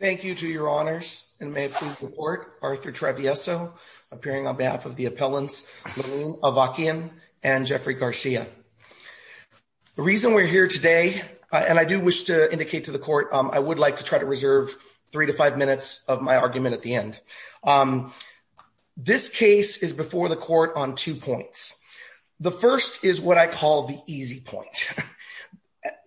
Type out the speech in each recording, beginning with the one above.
Thank you to your honors, and may it please the court, Arthur Trevieso, appearing on behalf of the appellants Malou Avakian and Jeffrey Garcia. The reason we're here today, and I do wish to indicate to the court, I would like to try to reserve three to five minutes of my argument at the end. This case is before the court on two points. The first is what I call the easy point.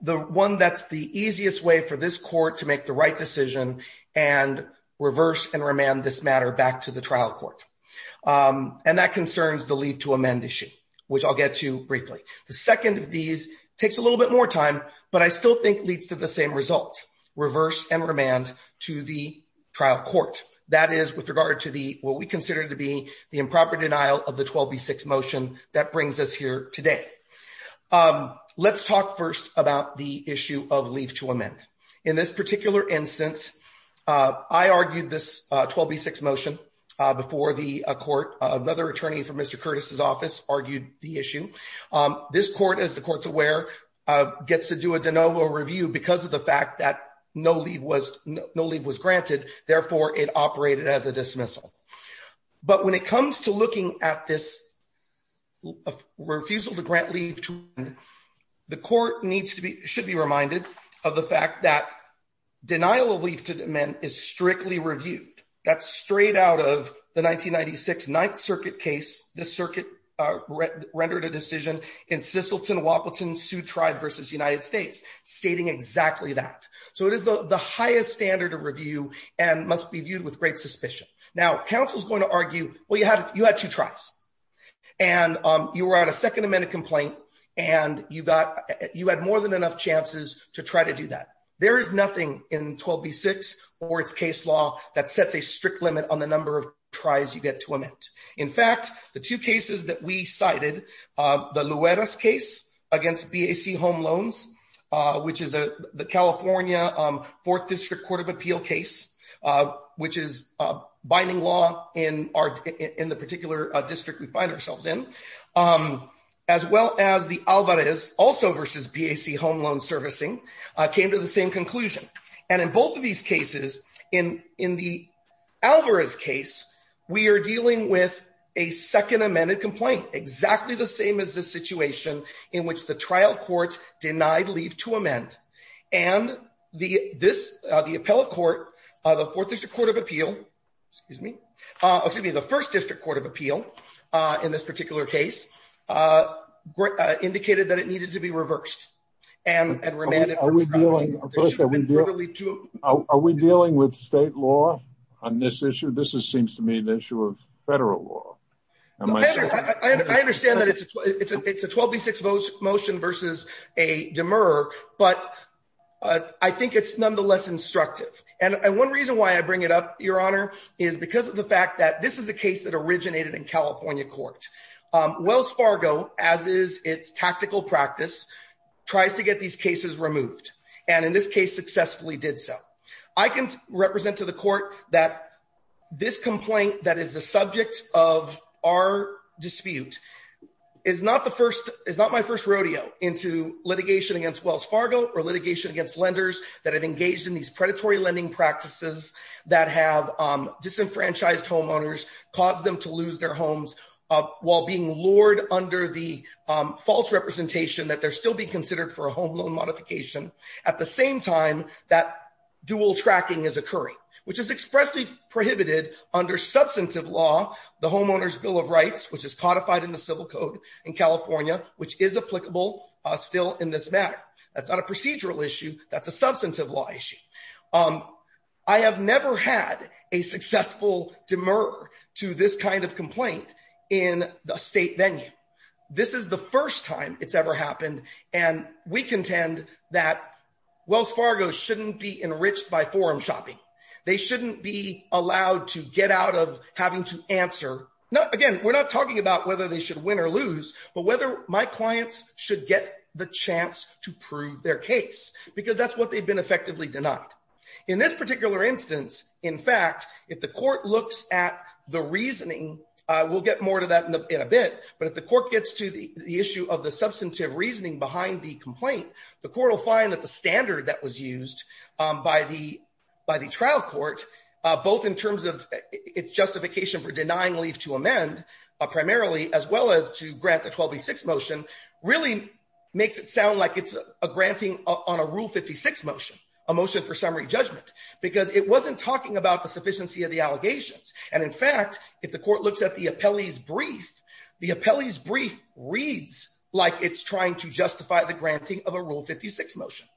The one that's the easiest way for this court to make the right decision and reverse and remand this matter back to the trial court. And that concerns the leave to amend issue, which I'll get to briefly. The second of these takes a little bit more time, but I still think leads to the same result, reverse and remand to the trial court. That is with regard to what we consider to be the improper denial of the 12B6 motion that brings us here today. Let's talk first about the issue of leave to amend. In this particular instance, I argued this 12B6 motion before the court. Another attorney from Mr. Curtis's office argued the issue. This court, as the court's aware, gets to do a de novo review because of the fact that no leave was granted. Therefore, it operated as a dismissal. But when it comes to looking at this refusal to grant leave to amend, the court needs to be should be reminded of the fact that denial of leave to amend is strictly reviewed. That's straight out of the 1996 Ninth Circuit case. The circuit rendered a decision in Sisselton, Wapleton, Sioux Tribe versus United States, stating exactly that. So it is the highest standard of review and must be viewed with great suspicion. Now, counsel is going to argue, well, you had you had two tries and you were on a second amendment complaint and you got you had more than enough chances to try to do that. There is nothing in 12B6 or its case law that sets a strict limit on the number of tries you get to amend. In fact, the two cases that we cited, the Luera's case against BAC home loans, which is the California 4th District Court of Appeal case, which is binding law in our in the particular district we find ourselves in, as well as the Alvarez, also versus BAC home loan servicing, came to the same conclusion. And in both of these cases, in in the Alvarez case, we are dealing with a second amended complaint, exactly the same as the situation in which the trial court denied leave to amend. And the this the appellate court, the 4th District Court of Appeal, excuse me, excuse me, the 1st District Court of Appeal in this particular case indicated that it needed to be reversed and remanded. Are we dealing with state law on this issue? This is seems to me an issue of federal law. I understand that it's a 12B6 motion versus a demurrer, but I think it's nonetheless instructive. And one reason why I bring it up, Your Honor, is because of the fact that this is a case that originated in California court. Wells Fargo, as is its tactical practice, tries to get these cases removed, and in this case successfully did so. I can represent to the court that this complaint that is the subject of our dispute is not the first, is not my first rodeo into litigation against Wells Fargo or litigation against lenders that have engaged in these predatory lending practices that have disenfranchised homeowners, caused them to lose their homes while being lured under the false representation that they're still being considered for a home loan modification. At the same time, that dual tracking is occurring, which is expressly prohibited under substantive law. The Homeowners Bill of Rights, which is codified in the civil code in California, which is applicable still in this matter. That's not a procedural issue. That's a substantive law issue. I have never had a successful demurrer to this kind of complaint in a state venue. This is the first time it's ever happened, and we contend that Wells Fargo shouldn't be enriched by forum shopping. They shouldn't be allowed to get out of having to answer. Again, we're not talking about whether they should win or lose, but whether my clients should get the chance to prove their case, because that's what they've been effectively denied. In this particular instance, in fact, if the court looks at the reasoning, we'll get more to that in a bit. But if the court gets to the issue of the substantive reasoning behind the complaint, the court will find that the standard that was used by the trial court, both in terms of its justification for denying leave to amend, primarily, as well as to grant the 12B6 motion, really makes it sound like it's a granting on a Rule 56 motion, a motion for summary judgment, because it wasn't talking about the sufficiency of the allegations. And in fact, if the court looks at the appellee's brief, the appellee's brief reads like it's trying to justify the granting of a Rule 56 motion.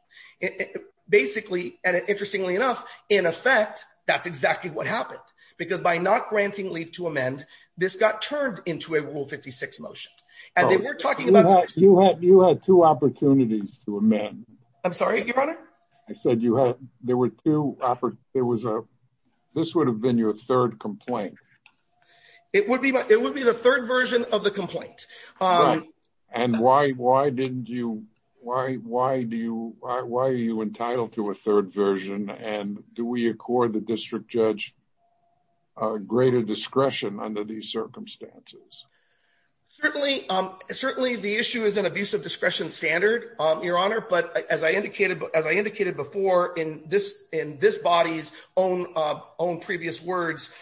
Basically, and interestingly enough, in effect, that's exactly what happened, because by not granting leave to amend, this got turned into a Rule 56 motion. You had two opportunities to amend. I'm sorry, Your Honor? I said there were two. This would have been your third complaint. It would be the third version of the complaint. And why are you entitled to a third version, and do we accord the district judge greater discretion under these circumstances? Certainly, the issue is an abuse of discretion standard, Your Honor, but as I indicated before in this body's own previous words,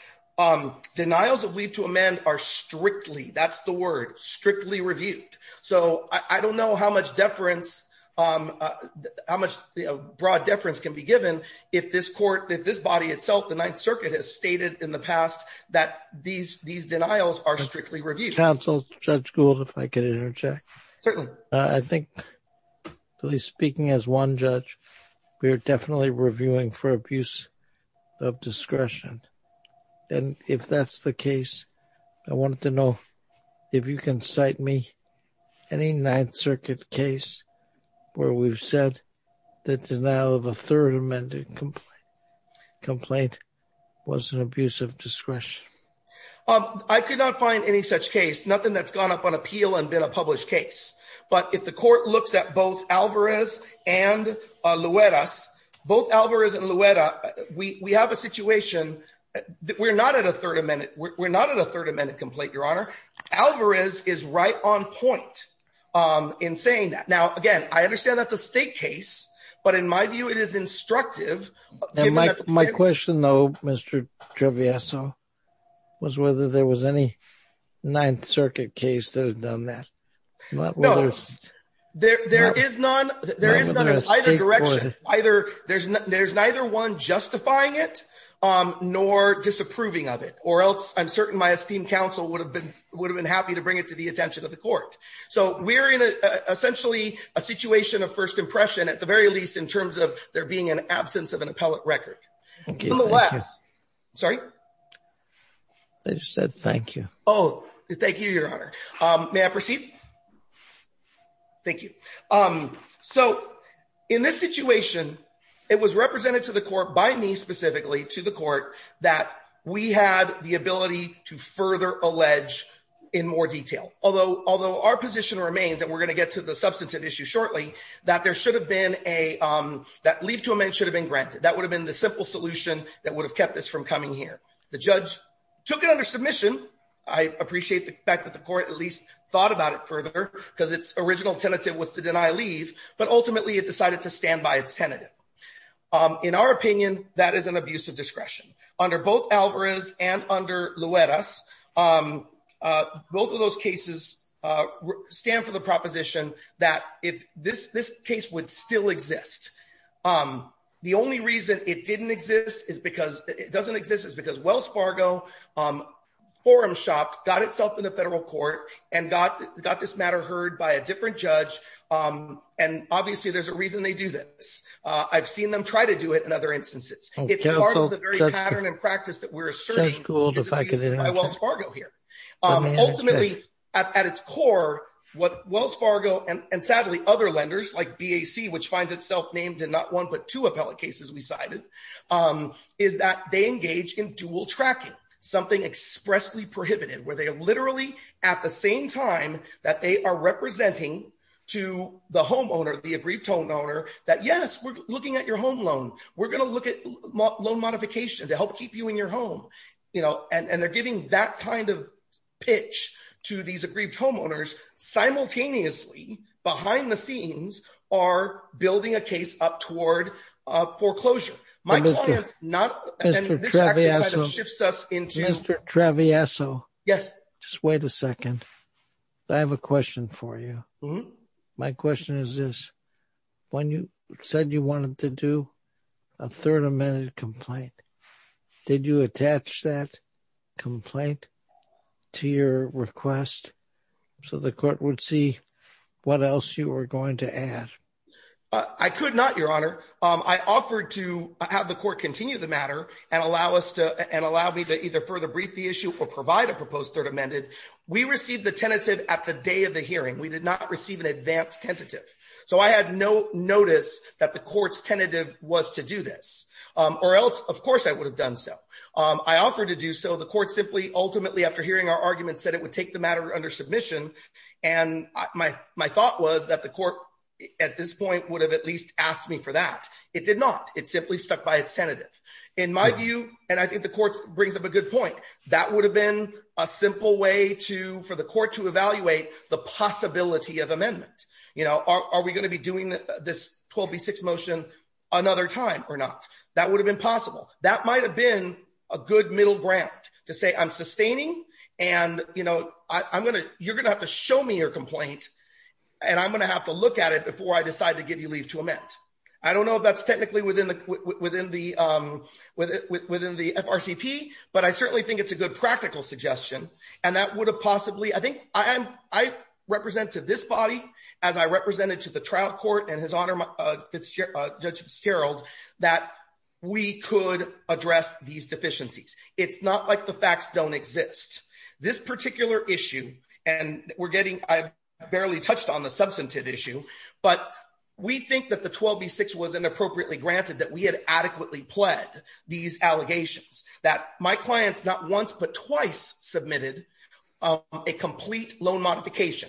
denials of leave to amend are strictly, that's the word, strictly reviewed. So I don't know how much deference, how much broad deference can be given if this court, if this body itself, the Ninth Circuit, has stated in the past that these denials are strictly reviewed. Counsel, Judge Gould, if I could interject. Certainly. I think, at least speaking as one judge, we are definitely reviewing for abuse of discretion. And if that's the case, I wanted to know if you can cite me any Ninth Circuit case where we've said that denial of a third amended complaint was an abuse of discretion. I could not find any such case, nothing that's gone up on appeal and been a published case. But if the court looks at both Alvarez and Luera, both Alvarez and Luera, we have a situation that we're not at a third amended complaint, Your Honor. Alvarez is right on point in saying that. Now, again, I understand that's a state case, but in my view, it is instructive. My question, though, Mr. Trevizo, was whether there was any Ninth Circuit case that has done that. No, there is none. There is none in either direction. There's neither one justifying it nor disapproving of it, or else I'm certain my esteemed counsel would have been happy to bring it to the attention of the court. So we're in essentially a situation of first impression, at the very least, in terms of there being an absence of an appellate record. Nevertheless, sorry? I just said thank you. Oh, thank you, Your Honor. May I proceed? Thank you. So in this situation, it was represented to the court by me specifically, to the court, that we had the ability to further allege in more detail. Although our position remains, and we're going to get to the substantive issue shortly, that leave to amend should have been granted. That would have been the simple solution that would have kept this from coming here. The judge took it under submission. I appreciate the fact that the court at least thought about it further because its original tentative was to deny leave, but ultimately it decided to stand by its tentative. In our opinion, that is an abuse of discretion. Under both Alvarez and under Luera's, both of those cases stand for the proposition that this case would still exist. The only reason it didn't exist is because – it doesn't exist is because Wells Fargo forum shopped, got itself in the federal court, and got this matter heard by a different judge. And obviously there's a reason they do this. I've seen them try to do it in other instances. It's part of the very pattern and practice that we're asserting, which is abused by Wells Fargo here. Ultimately, at its core, what Wells Fargo and sadly other lenders like BAC, which finds itself named in not one but two appellate cases we cited, is that they engage in dual tracking, something expressly prohibited, where they literally at the same time that they are representing to the homeowner, the aggrieved homeowner, that yes, we're looking at your home loan. We're going to look at loan modification to help keep you in your home. And they're giving that kind of pitch to these aggrieved homeowners simultaneously behind the scenes are building a case up toward foreclosure. My client's not – and this actually kind of shifts us into – Mr. Traviasso. Yes. Just wait a second. I have a question for you. My question is this. When you said you wanted to do a third amended complaint, did you attach that complaint to your request so the court would see what else you were going to add? I could not, Your Honor. I offered to have the court continue the matter and allow me to either further brief the issue or provide a proposed third amended. We received the tentative at the day of the hearing. We did not receive an advanced tentative. So I had no notice that the court's tentative was to do this. Or else, of course, I would have done so. I offered to do so. The court simply ultimately, after hearing our argument, said it would take the matter under submission. And my thought was that the court at this point would have at least asked me for that. It did not. It simply stuck by its tentative. In my view, and I think the court brings up a good point, that would have been a simple way for the court to evaluate the possibility of amendment. Are we going to be doing this 12B6 motion another time or not? That would have been possible. That might have been a good middle ground to say I'm sustaining and you're going to have to show me your complaint and I'm going to have to look at it before I decide to give you leave to amend. I don't know if that's technically within the FRCP, but I certainly think it's a good practical suggestion. I think I represent to this body, as I represented to the trial court and his Honor, Judge Fitzgerald, that we could address these deficiencies. It's not like the facts don't exist. This particular issue, and I barely touched on the substantive issue, but we think that the 12B6 was inappropriately granted that we had adequately pled these allegations. That my clients not once but twice submitted a complete loan modification.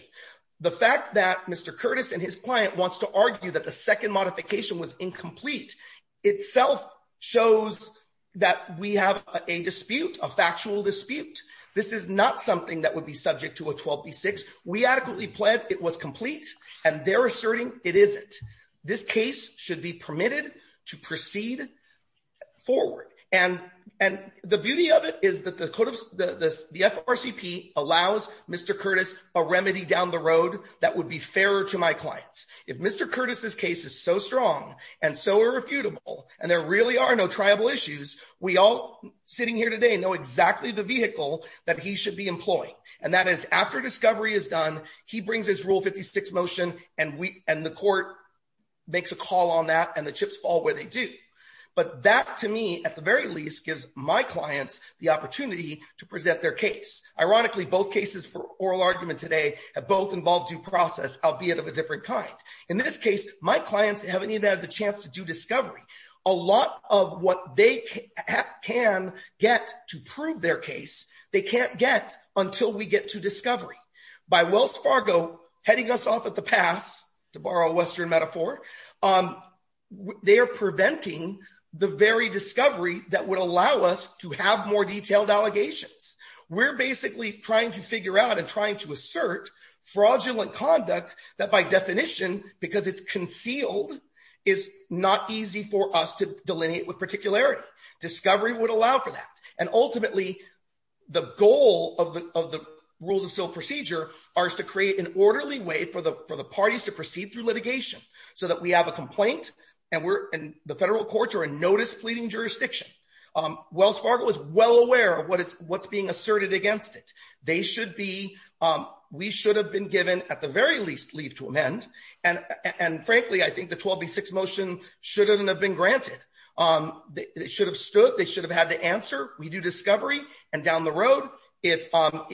The fact that Mr. Curtis and his client wants to argue that the second modification was incomplete itself shows that we have a dispute, a factual dispute. This is not something that would be subject to a 12B6. We adequately pled it was complete, and they're asserting it isn't. This case should be permitted to proceed forward. And the beauty of it is that the FRCP allows Mr. Curtis a remedy down the road that would be fairer to my clients. If Mr. Curtis's case is so strong and so irrefutable and there really are no triable issues, we all sitting here today know exactly the vehicle that he should be employing. And that is after discovery is done, he brings his Rule 56 motion and the court makes a call on that and the chips fall where they do. But that to me, at the very least, gives my clients the opportunity to present their case. Ironically, both cases for oral argument today have both involved due process, albeit of a different kind. In this case, my clients haven't even had the chance to do discovery. A lot of what they can get to prove their case, they can't get until we get to discovery. By Wells Fargo heading us off at the pass, to borrow a Western metaphor, they are preventing the very discovery that would allow us to have more detailed allegations. We're basically trying to figure out and trying to assert fraudulent conduct that by definition, because it's concealed, is not easy for us to delineate with particularity. And ultimately, the goal of the rules of procedure are to create an orderly way for the parties to proceed through litigation so that we have a complaint. And we're in the federal courts or a notice fleeting jurisdiction. Wells Fargo is well aware of what is what's being asserted against it. They should be. We should have been given at the very least leave to amend. And frankly, I think the 126 motion shouldn't have been granted. They should have stood. They should have had to answer. We do discovery. And down the road, if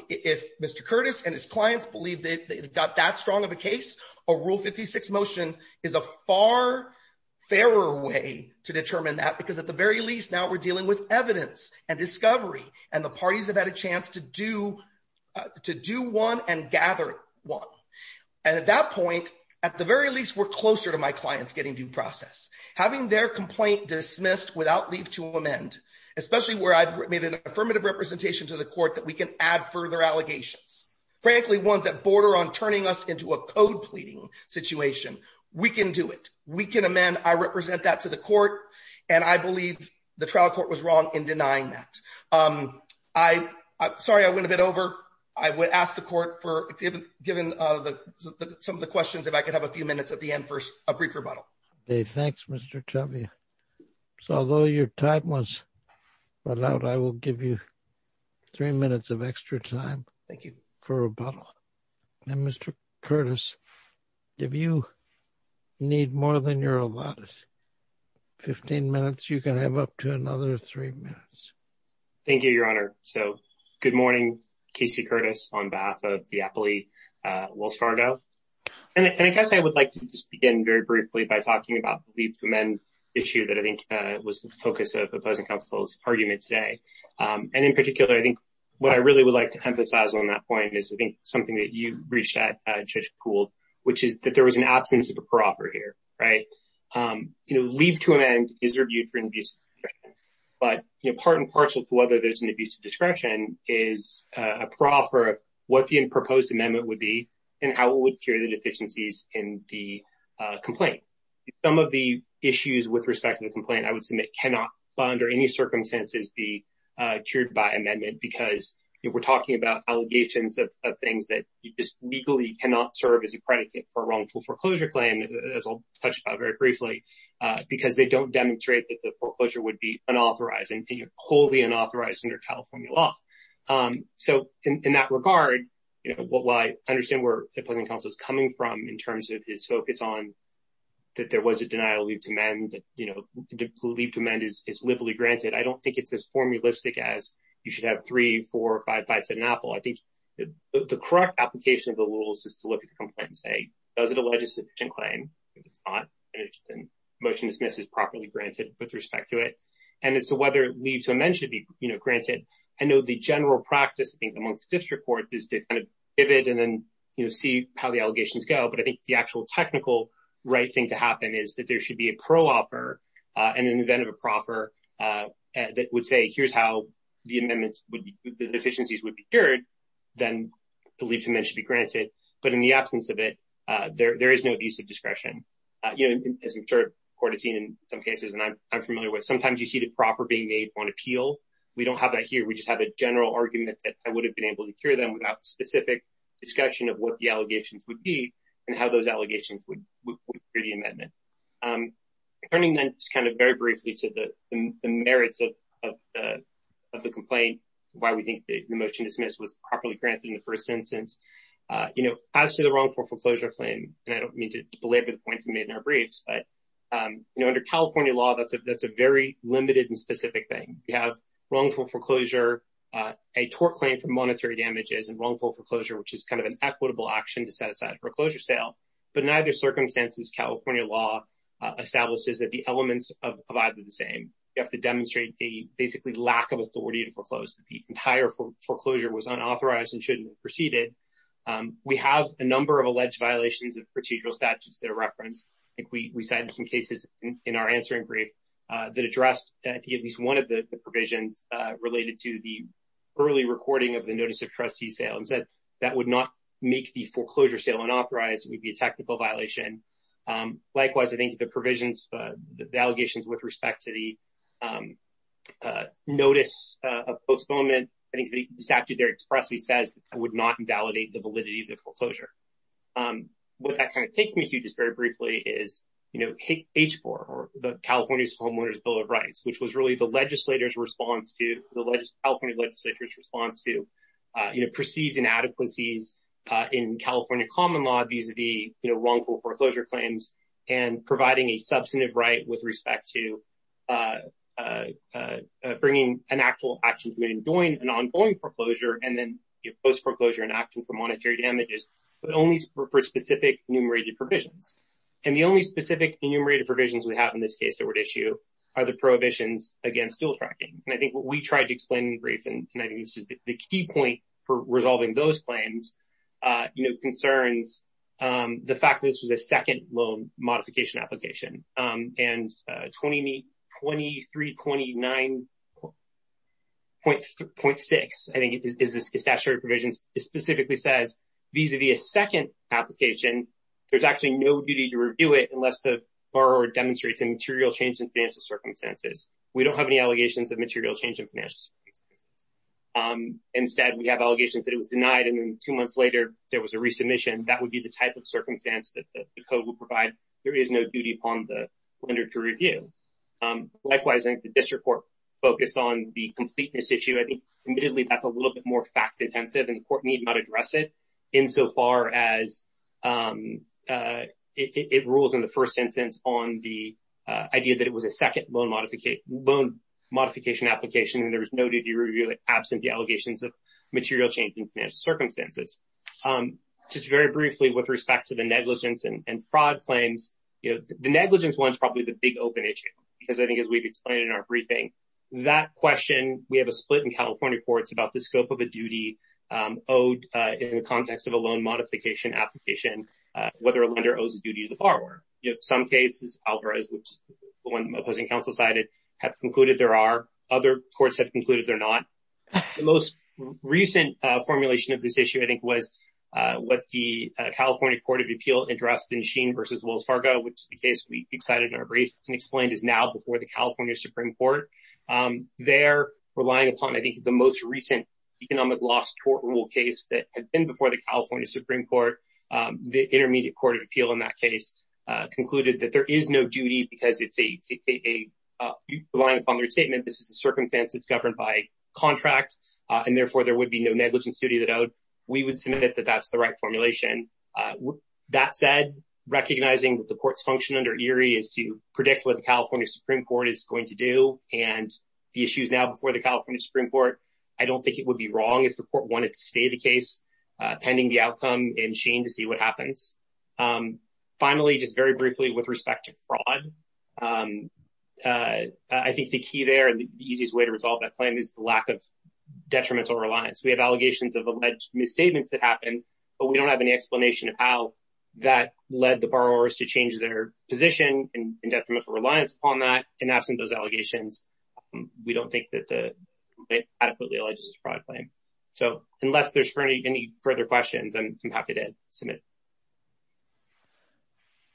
if Mr. Curtis and his clients believe that they've got that strong of a case, a rule 56 motion is a far fairer way to determine that, because at the very least, now we're dealing with evidence and discovery. And the parties have had a chance to do to do one and gather one. And at that point, at the very least, we're closer to my clients getting due process, having their complaint dismissed without leave to amend, especially where I've made an affirmative representation to the court that we can add further allegations, frankly, ones that border on turning us into a code pleading situation. We can do it. We can amend. I represent that to the court. And I believe the trial court was wrong in denying that. I'm sorry, I went a bit over. I would ask the court for given some of the questions, if I could have a few minutes at the end for a brief rebuttal. Thanks, Mr. Although your time was allowed, I will give you 3 minutes of extra time. Thank you for a bottle. Mr. Curtis, if you need more than your 15 minutes, you can have up to another 3 minutes. Thank you, Your Honor. So good morning. Casey Curtis on behalf of the Appley Wells Fargo. And I guess I would like to just begin very briefly by talking about the men issue that I think was the focus of opposing counsel's argument today. And in particular, I think what I really would like to emphasize on that point is, I think, something that you reached out to school, which is that there was an absence of a proper here. Leave to amend is reviewed for abuse. But part and parcel to whether there's an abuse of discretion is a proper what the proposed amendment would be and how it would cure the deficiencies in the complaint. Some of the issues with respect to the complaint, I would submit cannot under any circumstances be cured by amendment, because we're talking about allegations of things that you just legally cannot serve as a predicate for wrongful foreclosure claim. As I'll touch on very briefly, because they don't demonstrate that the foreclosure would be unauthorized and wholly unauthorized under California law. So in that regard, what I understand where opposing counsel is coming from in terms of his focus on that, there was a denial of leave to amend that leave to amend is liberally granted. I don't think it's as formalistic as you should have three, four or five bites at an apple. I think the correct application of the rules is to look at the complaint and say, does it a legislation claim? Motion dismiss is properly granted with respect to it. And as to whether leave to amend should be granted. I know the general practice amongst district courts is to kind of pivot and then see how the allegations go. But I think the actual technical right thing to happen is that there should be a pro offer and an event of a proffer that would say, here's how the amendments would be deficiencies would be cured. Then leave to be granted. But in the absence of it, there is no abuse of discretion. As I'm sure court has seen in some cases and I'm familiar with, sometimes you see the proffer being made on appeal. We don't have that here. We just have a general argument that I would have been able to cure them without specific discussion of what the allegations would be and how those allegations would be amended. Turning then just kind of very briefly to the merits of the complaint, why we think the motion dismiss was properly granted in the first instance, you know, as to the wrongful foreclosure claim. And I don't mean to belabor the point you made in our briefs, but, you know, under California law, that's a that's a very limited and specific thing. We have wrongful foreclosure, a tort claim for monetary damages and wrongful foreclosure, which is kind of an equitable action to set aside for a closure sale. But in either circumstances, California law establishes that the elements of either the same, you have to demonstrate a basically lack of authority to foreclose. The entire foreclosure was unauthorized and shouldn't have proceeded. We have a number of alleged violations of procedural statutes that are referenced. We cited some cases in our answering brief that addressed at least one of the provisions related to the early recording of the notice of trustee sales that that would not make the foreclosure sale unauthorized would be a technical violation. Likewise, I think the provisions, the allegations with respect to the notice of postponement, I think the statute there expressly says I would not invalidate the validity of the foreclosure. What that kind of takes me to just very briefly is, you know, H4 or the California Homeowners Bill of Rights, which was really the legislators response to the California legislators response to, you know, perceived inadequacies in California common law. Vis-a-vis, you know, wrongful foreclosure claims and providing a substantive right with respect to bringing an actual action to join an ongoing foreclosure and then post foreclosure in action for monetary damages, but only for specific enumerated provisions. And the only specific enumerated provisions we have in this case that would issue are the prohibitions against dual tracking. And I think what we tried to explain in brief, and I think this is the key point for resolving those claims, you know, concerns the fact that this was a second loan modification application. And 2329.6, I think, is the statutory provisions specifically says vis-a-vis a second application, there's actually no duty to review it unless the borrower demonstrates a material change in financial circumstances. We don't have any allegations of material change in financial circumstances. Instead, we have allegations that it was denied and then two months later, there was a resubmission, that would be the type of circumstance that the code will provide. There is no duty upon the lender to review. Likewise, I think the district court focused on the completeness issue. I think admittedly, that's a little bit more fact-intensive and the court need not address it insofar as it rules in the first instance on the idea that it was a second loan modification application and there was no duty to review it absent the allegations of material change in financial circumstances. Just very briefly, with respect to the negligence and fraud claims, you know, the negligence one is probably the big open issue, because I think as we've explained in our briefing, that question, we have a split in California courts about the scope of a duty owed in the context of a loan modification application, whether a lender owes a duty to the borrower. Some cases, Alvarez, which is the one the opposing counsel cited, have concluded there are. Other courts have concluded they're not. The most recent formulation of this issue, I think, was what the California Court of Appeal addressed in Sheen v. Wells Fargo, which is the case we excited in our brief and explained is now before the California Supreme Court. They're relying upon, I think, the most recent economic loss court rule case that had been before the California Supreme Court. The Intermediate Court of Appeal in that case concluded that there is no duty because it's a reliant upon their statement. This is a circumstance that's governed by contract, and therefore there would be no negligence duty that we would submit that that's the right formulation. That said, recognizing the court's function under Erie is to predict what the California Supreme Court is going to do. And the issues now before the California Supreme Court, I don't think it would be wrong if the court wanted to stay the case pending the outcome in Sheen to see what happens. Finally, just very briefly with respect to fraud, I think the key there and the easiest way to resolve that claim is the lack of detrimental reliance. We have allegations of alleged misstatements that happen, but we don't have any explanation of how that led the borrowers to change their position and detrimental reliance on that. And absent those allegations, we don't think that the adequately alleged fraud claim. So unless there's any further questions, I'm happy to submit.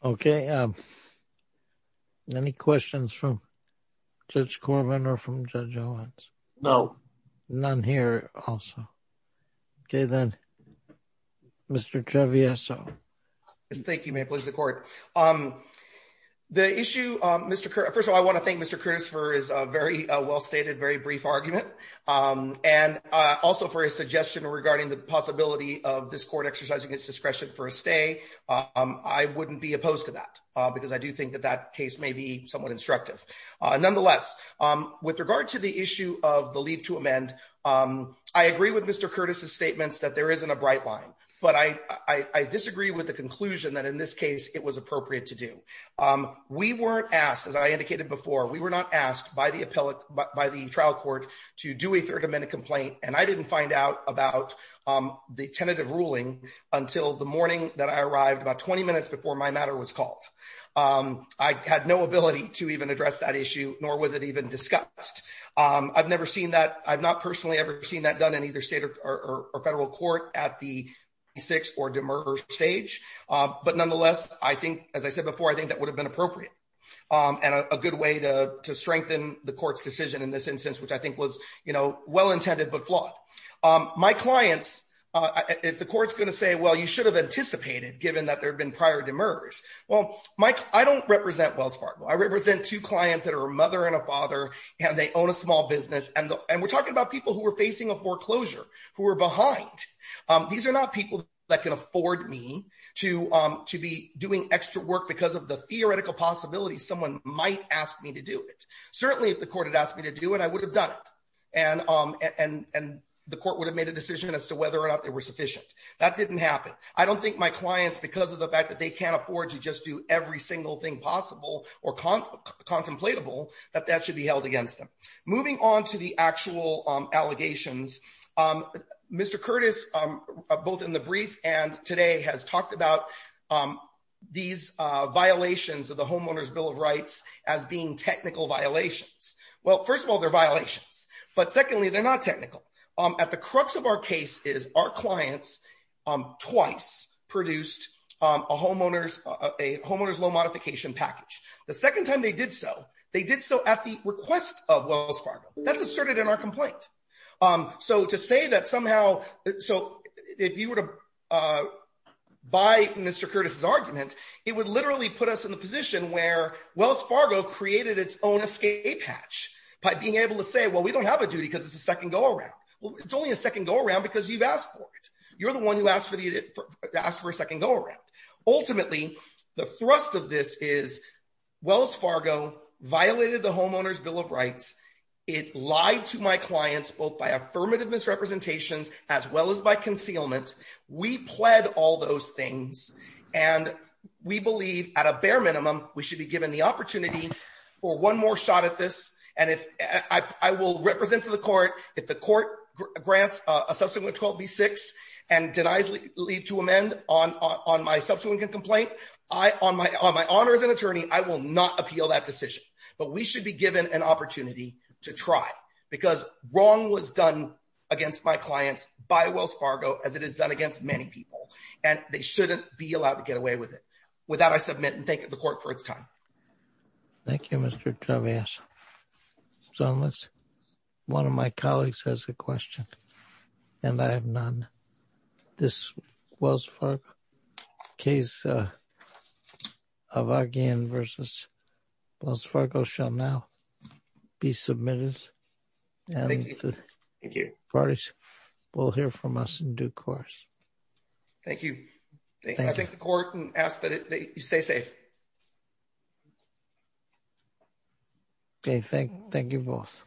Okay. Any questions from Judge Corman or from Joe Jones? No, none here. Also. Okay, then, Mr. Treviso. Thank you. May I please the court. The issue, Mr. First of all, I want to thank Mr. Christopher is a very well stated, very brief argument. And also for a suggestion regarding the possibility of this court exercising its discretion for a stay. I wouldn't be opposed to that, because I do think that that case may be somewhat instructive. Nonetheless, with regard to the issue of the leave to amend. I agree with Mr. Curtis's statements that there isn't a bright line, but I disagree with the conclusion that in this case, it was appropriate to do. We weren't asked as I indicated before we were not asked by the appellate by the trial court to do a 30 minute complaint and I didn't find out about the tentative ruling until the morning that I arrived about 20 minutes before my matter was called. I had no ability to even address that issue, nor was it even discussed. I've never seen that. I've not personally ever seen that done in either state or federal court at the six or demur stage. But nonetheless, I think, as I said before, I think that would have been appropriate and a good way to strengthen the court's decision in this instance, which I think was well intended but flawed. My clients, if the court's going to say, well, you should have anticipated given that there had been prior demurs. Well, Mike, I don't represent Wells Fargo. I represent two clients that are a mother and a father, and they own a small business. And we're talking about people who are facing a foreclosure, who are behind. These are not people that can afford me to be doing extra work because of the theoretical possibility someone might ask me to do it. Certainly, if the court had asked me to do it, I would have done it. And the court would have made a decision as to whether or not they were sufficient. That didn't happen. I don't think my clients, because of the fact that they can't afford to just do every single thing possible or contemplatable, that that should be held against them. Moving on to the actual allegations, Mr. Curtis, both in the brief and today, has talked about these violations of the Homeowner's Bill of Rights as being technical violations. Well, first of all, they're violations. But secondly, they're not technical. At the crux of our case is our clients twice produced a homeowner's loan modification package. The second time they did so, they did so at the request of Wells Fargo. That's asserted in our complaint. So to say that somehow – so if you were to buy Mr. Curtis's argument, it would literally put us in a position where Wells Fargo created its own escape hatch by being able to say, well, we don't have a duty because it's a second go around. Well, it's only a second go around because you've asked for it. You're the one who asked for a second go around. Ultimately, the thrust of this is Wells Fargo violated the Homeowner's Bill of Rights. It lied to my clients both by affirmative misrepresentations as well as by concealment. We pled all those things, and we believe at a bare minimum we should be given the opportunity for one more shot at this. I will represent to the court if the court grants a subsequent 12B6 and denies leave to amend on my subsequent complaint, on my honor as an attorney, I will not appeal that decision. But we should be given an opportunity to try because wrong was done against my clients by Wells Fargo as it is done against many people. And they shouldn't be allowed to get away with it. With that, I submit and thank the court for its time. Thank you, Mr. Chavez. So, unless one of my colleagues has a question, and I have none. This Wells Fargo case of Argan versus Wells Fargo shall now be submitted, and the parties will hear from us in due course. Thank you. I think the court asks that you stay safe. Okay, thank you both.